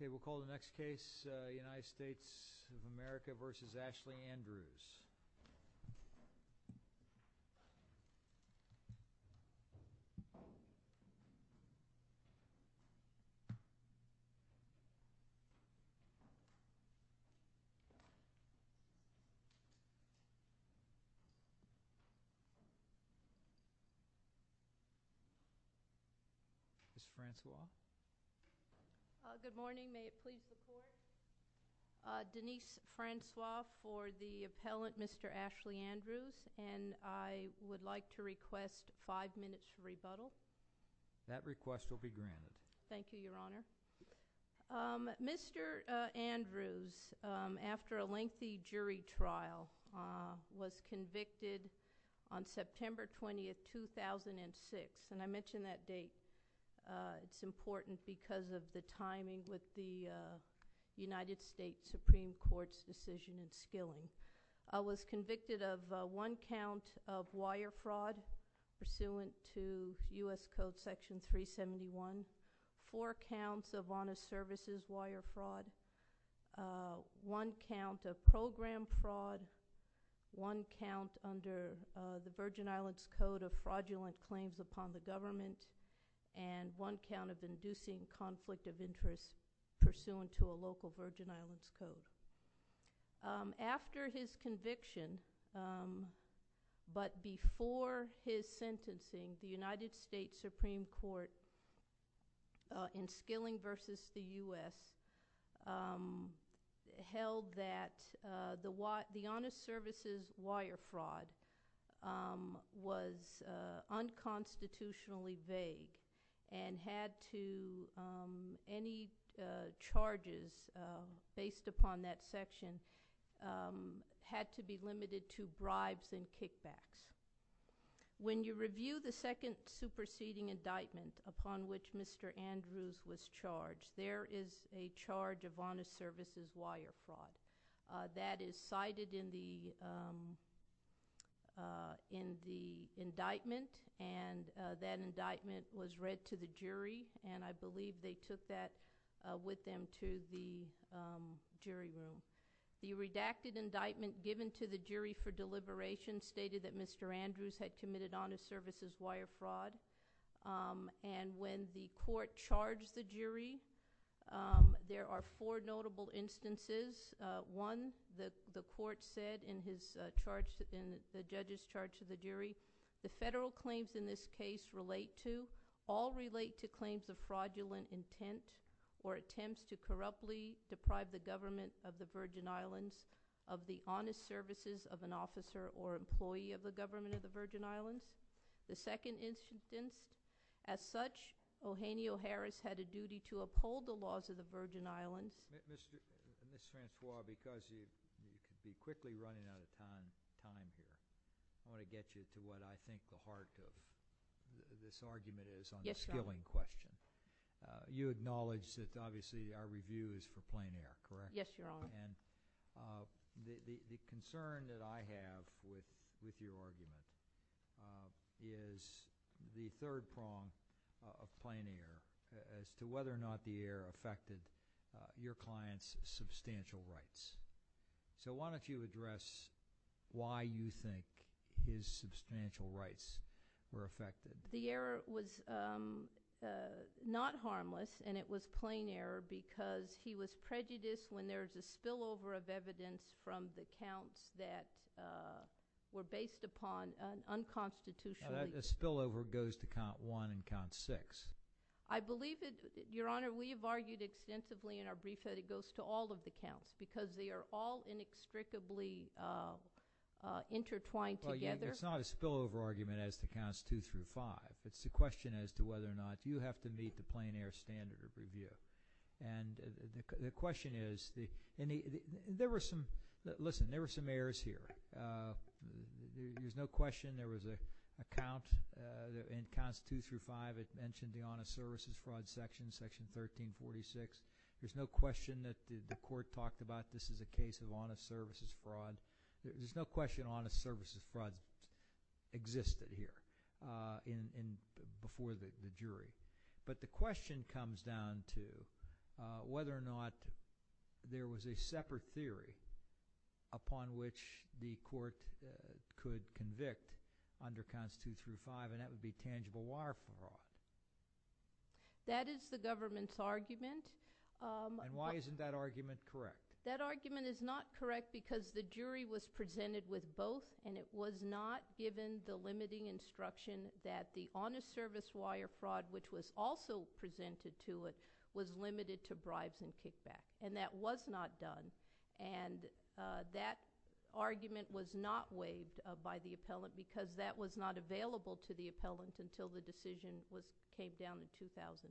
Okay, we'll call the next case United States of America versus Ashley Andrews Denise Francois for the appellant Mr. Ashley Andrews and Ms. Ashley Andrews for the plaintiff's defense. And I would like to request five minutes for rebuttal. That request will be granted. Thank you, Your Honor. Mr. Andrews, after a lengthy jury trial, was convicted on September 20, 2006, and I mentioned that date. It's important because of the timing with the United States Supreme Court's decision in skilling. He was convicted of one count of wire fraud pursuant to U.S. Code Section 371, four counts of honest services wire fraud, one count of program fraud, one count under the Virgin Islands Code of fraudulent claims upon the government, and one count of inducing conflict of interest pursuant to a local Virgin Islands Code. After his conviction, but before his sentencing, the United States Supreme Court in skilling versus the U.S. held that the honest services wire fraud was unconstitutionally vague and had to—any charges based upon that section had to be limited to bribes and kickbacks. When you review the second superseding indictment upon which Mr. Andrews was charged, there is a charge of honest services wire fraud. That is cited in the indictment, and that indictment was read to the jury, and I believe they took that with them to the jury room. The redacted indictment given to the jury for deliberation stated that Mr. Andrews had committed honest services wire fraud, and when the court charged the jury, there are four notable instances. One, the court said in the judge's charge to the jury, the federal claims in this case relate to—all relate to claims of fraudulent intent or attempts to corruptly deprive the government of the Virgin Islands of the honest services of an officer or employee of the government of the Virgin Islands. The second instance, as such, Eugenio Harris had a duty to uphold the laws of the Virgin Islands. Ms. Francois, because you could be quickly running out of time here, I want to get you to what I think the heart of this argument is on the skilling question. You acknowledge that, obviously, our review is for plein air, correct? Yes, Your Honor. And the concern that I have with your argument is the third prong of plein air as to whether or not the error affected your client's substantial rights. So why don't you address why you think his substantial rights were affected? The error was not harmless, and it was plein error because he was prejudiced when there was a spillover of evidence from the counts that were based upon an unconstitutional— A spillover goes to count one and count six. I believe it—Your Honor, we have argued extensively in our brief that it goes to all of the counts because they are all inextricably intertwined together. Well, it's not a spillover argument as to counts two through five. It's a question as to whether or not you have to meet the plein air standard of review. And the question is, there were some—Listen, there were some errors here. There's no question there was a count in counts two through five that mentioned the honest services fraud section, section 1346. There's no question that the court talked about this is a case of honest services fraud. There's no question honest services fraud existed here before the jury. But the question comes down to whether or not there was a separate theory upon which the court could convict under counts two through five, and that would be tangible wire fraud. That is the government's argument. And why isn't that argument correct? That argument is not correct because the jury was presented with both, and it was not given the limiting instruction that the honest service wire fraud, which was also presented to it, was limited to bribes and kickback. And that was not done, and that argument was not waived by the appellant because that was not available to the appellant until the decision came down in 2010.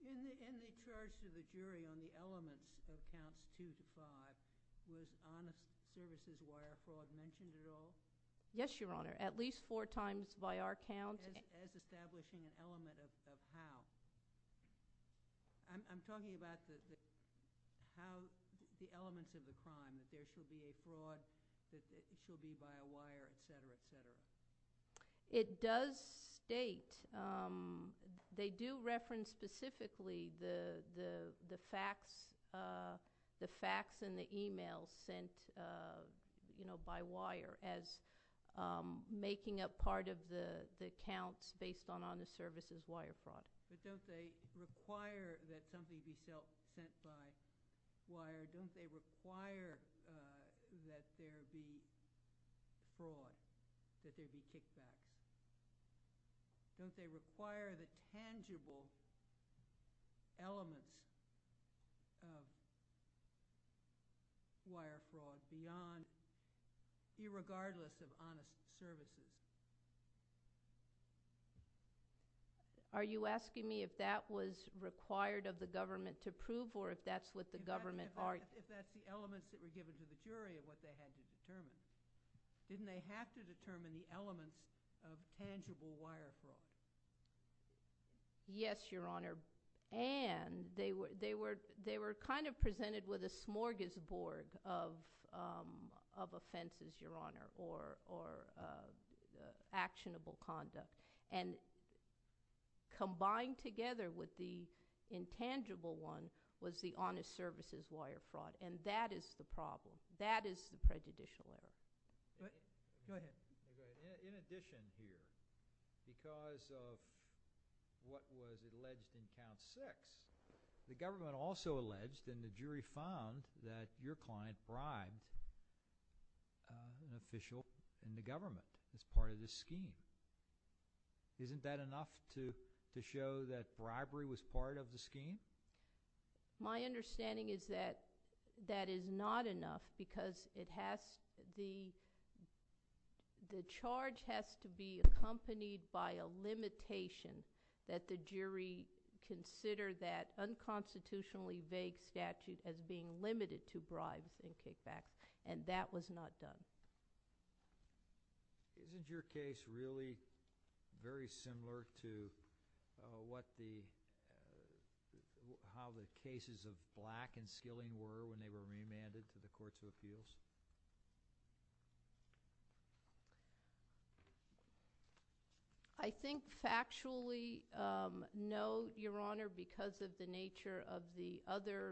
In the charge to the jury on the elements of counts two through five, was honest services wire fraud mentioned at all? Yes, Your Honor. At least four times by our count. As establishing an element of how. I'm talking about the elements of the crime, that there should be a fraud, that it should be by a wire, et cetera, et cetera. It does state. They do reference specifically the facts and the emails sent by wire as making up part of the counts based on honest services wire fraud. But don't they require that something be sent by wire? Don't they require that there be fraud, that there be kickback? Don't they require the tangible elements of wire fraud beyond, irregardless of honest services? Are you asking me if that was required of the government to prove or if that's what the government argued? If that's the elements that were given to the jury of what they had to determine. Didn't they have to determine the elements of tangible wire fraud? Yes, Your Honor. And they were kind of presented with a smorgasbord of offenses, Your Honor, or actionable conduct. And combined together with the intangible one was the honest services wire fraud. And that is the problem. That is the prejudicial error. Go ahead. In addition here, because of what was alleged in count six, the government also alleged and the jury found that your client bribed an official in the government as part of the scheme. Isn't that enough to show that bribery was part of the scheme? My understanding is that that is not enough because the charge has to be accompanied by a limitation that the jury consider that unconstitutionally vague statute as being limited to bribes and kickbacks. And that was not done. Isn't your case really very similar to how the cases of Black and Skilling were when they were remanded to the Courts of Appeals? I think factually, no, Your Honor, because of the nature of the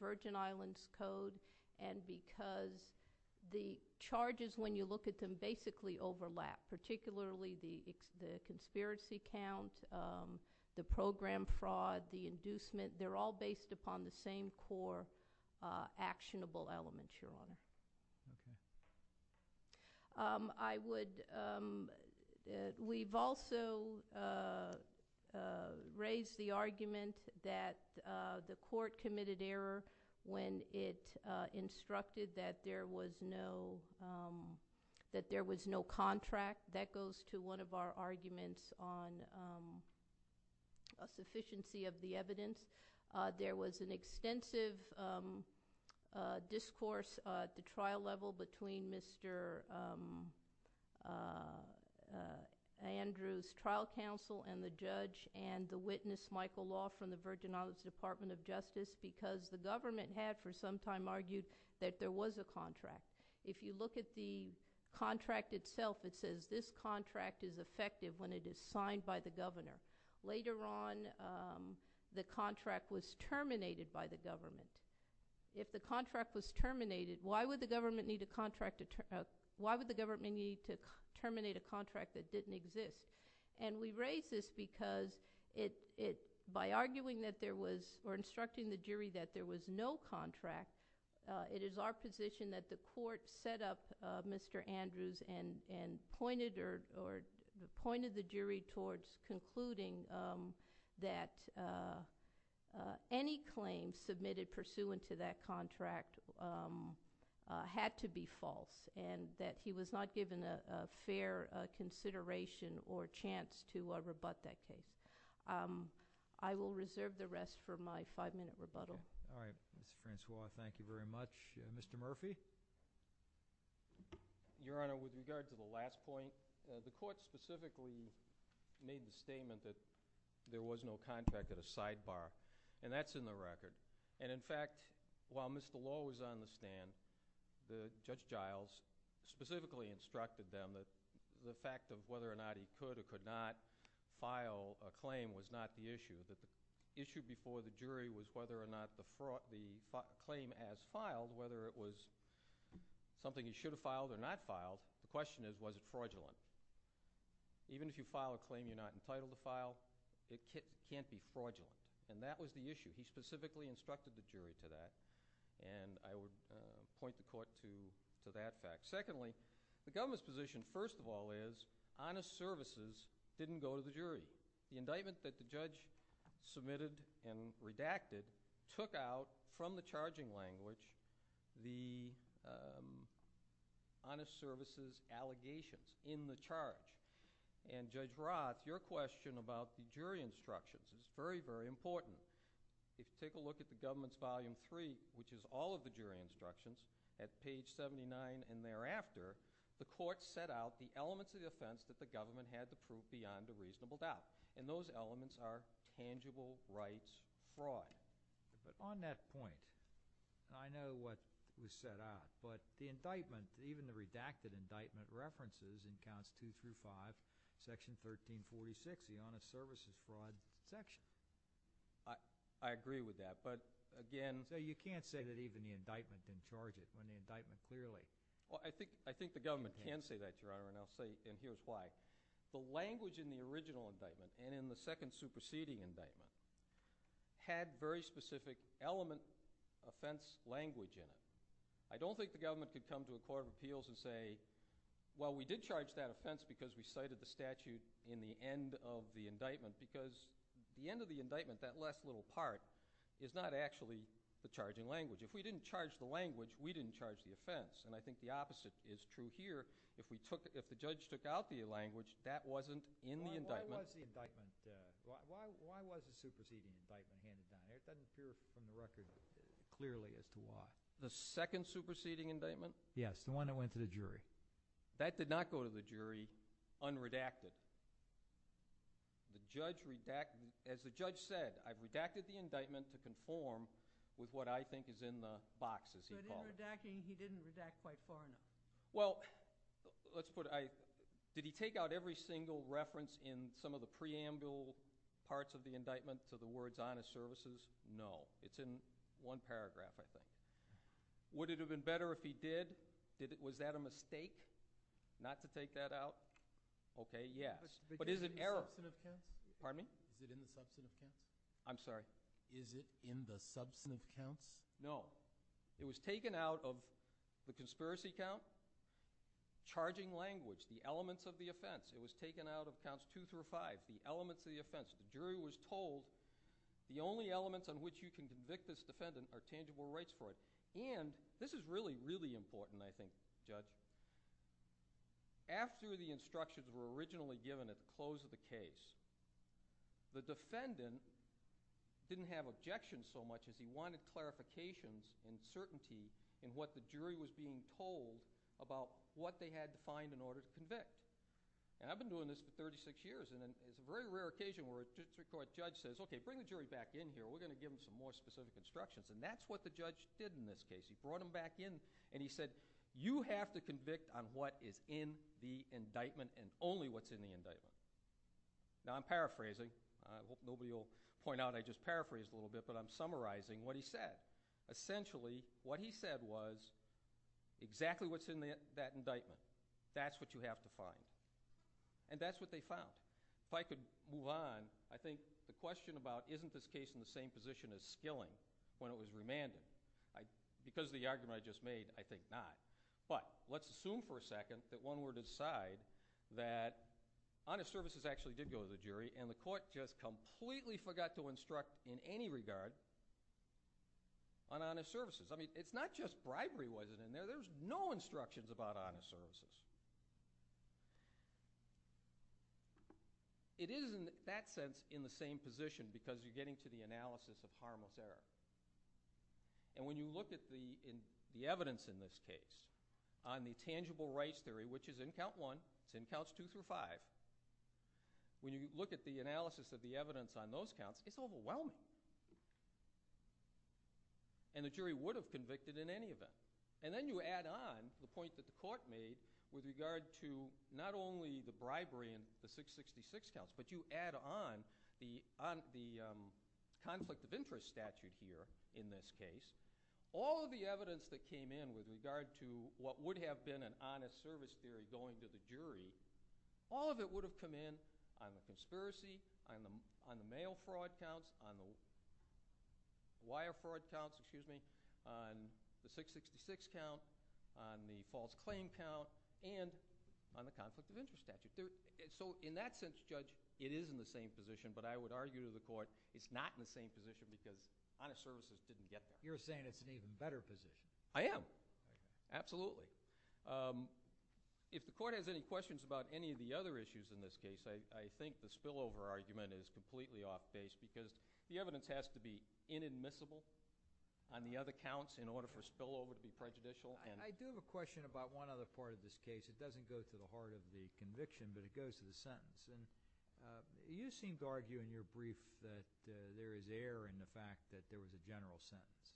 Virgin Islands Code and because the charges, when you look at them, basically overlap, particularly the conspiracy count, the program fraud, the inducement. They're all based upon the same core actionable elements, Your Honor. We've also raised the argument that the court committed error when it instructed that there was no contract. That goes to one of our arguments on a sufficiency of the evidence. There was an extensive discourse at the trial level between Mr. Andrews' trial counsel and the judge and the witness, Michael Law, from the Virgin Islands Department of Justice because the government had for some time argued that there was a contract. If you look at the contract itself, it says this contract is effective when it is signed by the governor. Later on, the contract was terminated by the government. If the contract was terminated, why would the government need to terminate a contract that didn't exist? We raise this because by arguing or instructing the jury that there was no contract, it is our position that the court set up Mr. Andrews and pointed the jury towards concluding that any claim submitted pursuant to that contract had to be false and that he was not given a fair consideration or chance to rebut that case. I will reserve the rest for my five-minute rebuttal. Mr. Francois, thank you very much. Mr. Murphy? Your Honor, with regard to the last point, the court specifically made the statement that there was no contract at a sidebar, and that's in the record. In fact, while Mr. Law was on the stand, Judge Giles specifically instructed them that the fact of whether or not he could or could not file a claim was not the issue. The issue before the jury was whether or not the claim as filed, whether it was something he should have filed or not filed, the question is, was it fraudulent? Even if you file a claim you're not entitled to file, it can't be fraudulent, and that was the issue. He specifically instructed the jury to that, and I would point the court to that fact. Secondly, the government's position, first of all, is honest services didn't go to the jury. The indictment that the judge submitted and redacted took out, from the charging language, the honest services allegations in the charge. And Judge Roth, your question about the jury instructions is very, very important. If you take a look at the government's volume three, which is all of the jury instructions, at page 79 and thereafter, the court set out the elements of the offense that the government had to prove beyond a reasonable doubt, and those elements are tangible rights fraud. But on that point, I know what was set out, but the indictment, even the redacted indictment references in counts two through five, section 1346, the honest services fraud section. I agree with that, but again... So you can't say that even the indictment didn't charge it when the indictment clearly... I think the government can say that, Your Honor, and I'll say, and here's why. The language in the original indictment and in the second superseding indictment had very specific element offense language in it. I don't think the government could come to a court of appeals and say, well, we did charge that offense because we cited the statute in the end of the indictment, because the end of the indictment, that last little part, is not actually the charging language. If we didn't charge the language, we didn't charge the offense, and I think the opposite is true here. If the judge took out the language, that wasn't in the indictment. Why was the superseding indictment handed down? It doesn't appear from the record clearly as to why. The second superseding indictment? Yes, the one that went to the jury. That did not go to the jury unredacted. As the judge said, I've redacted the indictment to conform with what I heard. Did he take out every single reference in some of the preamble parts of the indictment to the words, honest services? No. It's in one paragraph, I think. Would it have been better if he did? Was that a mistake not to take that out? Okay, yes. But is it error? Is it in the substantive counts? No. It was taken out of the conspiracy count, charging language, the elements of the offense. It was taken out of counts two through five, the elements of the offense. The jury was told the only elements on which you can convict this defendant are tangible rights for it. And this is really, really important, I think, Judge. After the instructions were originally given at the close of the case, the defendant didn't have objections so much as he wanted clarifications and certainty in what the jury was being told about what they had to find in order to convict. And I've been doing this for 36 years. And it's a very rare occasion where a district court judge says, okay, bring the jury back in here. We're going to give them some more specific instructions. And that's what the judge did in this case. He brought them back in and he said, you have to convict on what is in the indictment and only what's in the indictment. Now, I'm paraphrasing. I hope nobody will point out I just paraphrased a little bit, but I'm summarizing what he said. Essentially, what he said was exactly what's in that indictment. That's what you have to find. And that's what they found. If I could move on, I think the question about isn't this case in the same position as Skilling when it was remanded because of the argument I just made, I think not. But let's assume for a second that one were to decide that honest services actually did go to the jury and the court just completely forgot to instruct in any regard on honest services. It's not just bribery wasn't in there. There's no instructions about honest services. It is in that sense in the same position because you're getting to the analysis of harmless error. And when you look at the evidence in this case on the tangible rights theory, which is in Count 1, it's in Counts 2 through 5, when you look at the analysis of the evidence on those counts, it's overwhelming. And the jury would have convicted in any event. And then you add on the point that the court made with regard to not only the bribery in the 666 counts, but you add on the conflict of interest statute here in this case. All of the evidence that came in with regard to what would have been an honest service theory going to the jury, all of it would have come in on the conspiracy, on the mail fraud counts, on the wire fraud counts, excuse me, on the 666 count, on the false claim count, and on the conflict of interest statute. So in that sense, Judge, it is in the same position. But I would argue to the court it's not in the same position because honest services didn't get that. You're saying it's an even better position. I am. Absolutely. If the court has any questions about any of the other issues in this case, I think the spillover argument is completely off base because the evidence has to be inadmissible on the other counts in order for spillover to be prejudicial. I do have a question about one other part of this case. It doesn't go to the heart of the conviction, but it goes to the sentence. You seem to argue in your brief that there is error in the fact that there was a general sentence.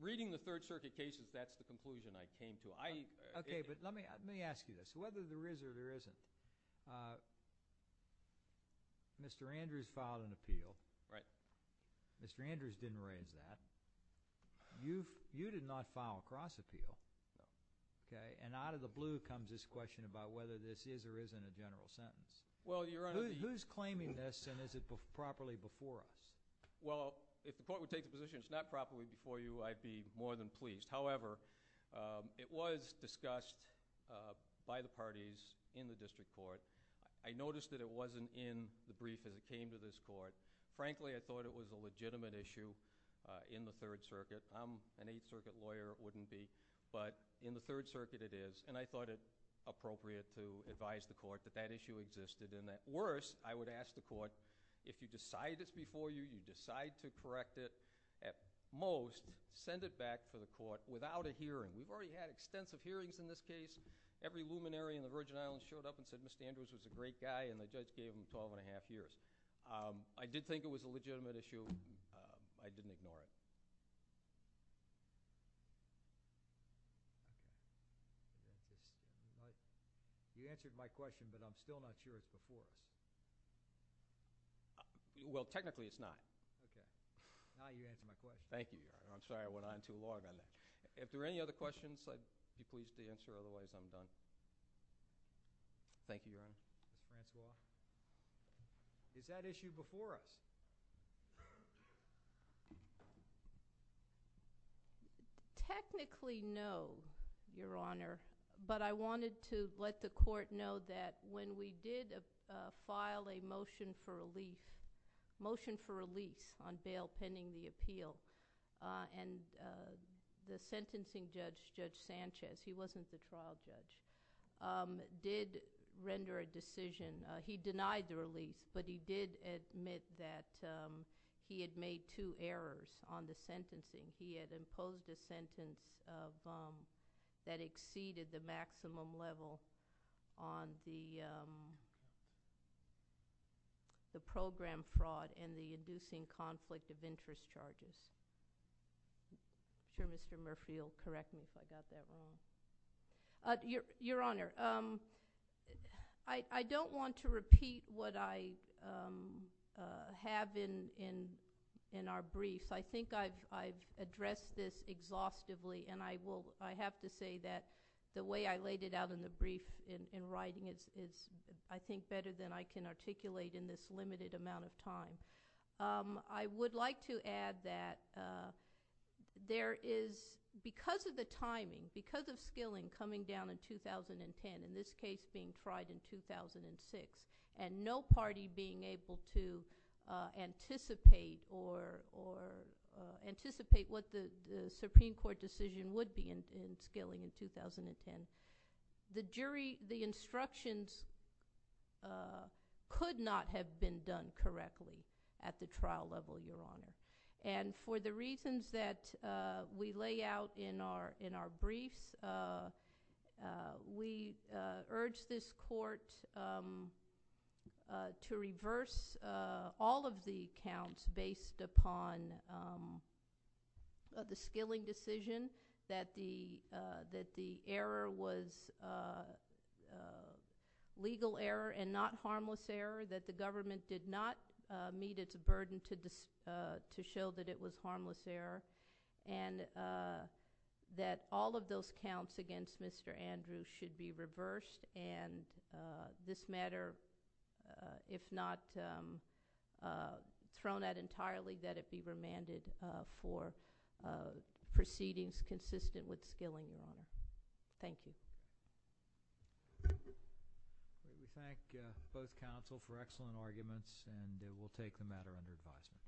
Reading the Third Circuit cases, that's the conclusion I came to. Let me ask you this. Whether there is or there isn't, Mr. Andrews filed an appeal. Mr. Andrews didn't raise that. You did not file a cross appeal. And out of the blue comes this question about whether this is or isn't a general sentence. Who's claiming this and is it properly before us? If the court would take the position it's not properly before you, I'd be more than pleased. However, it was discussed by the parties in the district court. I noticed that it wasn't in the brief as it came to this court. Frankly, I thought it was a legitimate issue in the Third Circuit. I'm an Eighth Circuit lawyer, wouldn't be, but in the Third Circuit it is and I thought it appropriate to advise the court that that issue existed in that. Worse, I would ask the court, if you decide it's before you, you decide to correct it at most, send it back for the court without a hearing. We've already had extensive hearings in this case. Every luminary in the Virgin Islands showed up and said Mr. Andrews was a great guy and the judge gave him twelve and a half years. I did think it was a legitimate issue. I didn't ignore it. You answered my question, but I'm still not sure it's before us. Well, technically it's not. Thank you, Your Honor. I'm sorry I went on too long on that. If there are any other questions, I'd be pleased to answer, otherwise I'm done. Thank you, Your Honor. Ms. Francois, is that issue before us? Technically, no, Your Honor, but I wanted to let the court know that when we did file a motion for release on bail pending the appeal the sentencing judge, Judge Sanchez, he wasn't the trial judge, did render a decision. He denied the release, but he did admit that he had made two errors on the sentencing. He had imposed a sentence that exceeded the maximum level on the program fraud and the inducing conflict of interest charges. I'm sure Mr. Murphy will correct me if I got that wrong. Your Honor, I don't want to repeat what I have in our briefs. I think I've said this exhaustively, and I have to say that the way I laid it out in the brief in writing is, I think, better than I can articulate in this limited amount of time. I would like to add that there is because of the timing, because of skilling coming down in 2010, in this case being tried in 2006, and no party being able to anticipate what the Supreme Court decision would be in skilling in 2010, the instructions could not have been done correctly at the trial level, Your Honor. For the reasons that we lay out in our briefs, we urge this court to reverse all of the counts based upon the skilling decision, that the error was legal error and not harmless error, that the government did not meet its burden to show that it was harmless error, and that all of those counts against Mr. Andrews should be reversed, and this matter if not thrown out entirely, that it be remanded for proceedings consistent with skilling, Your Honor. Thank you. We thank both counsel for excellent arguments, and we'll take the matter under advisement.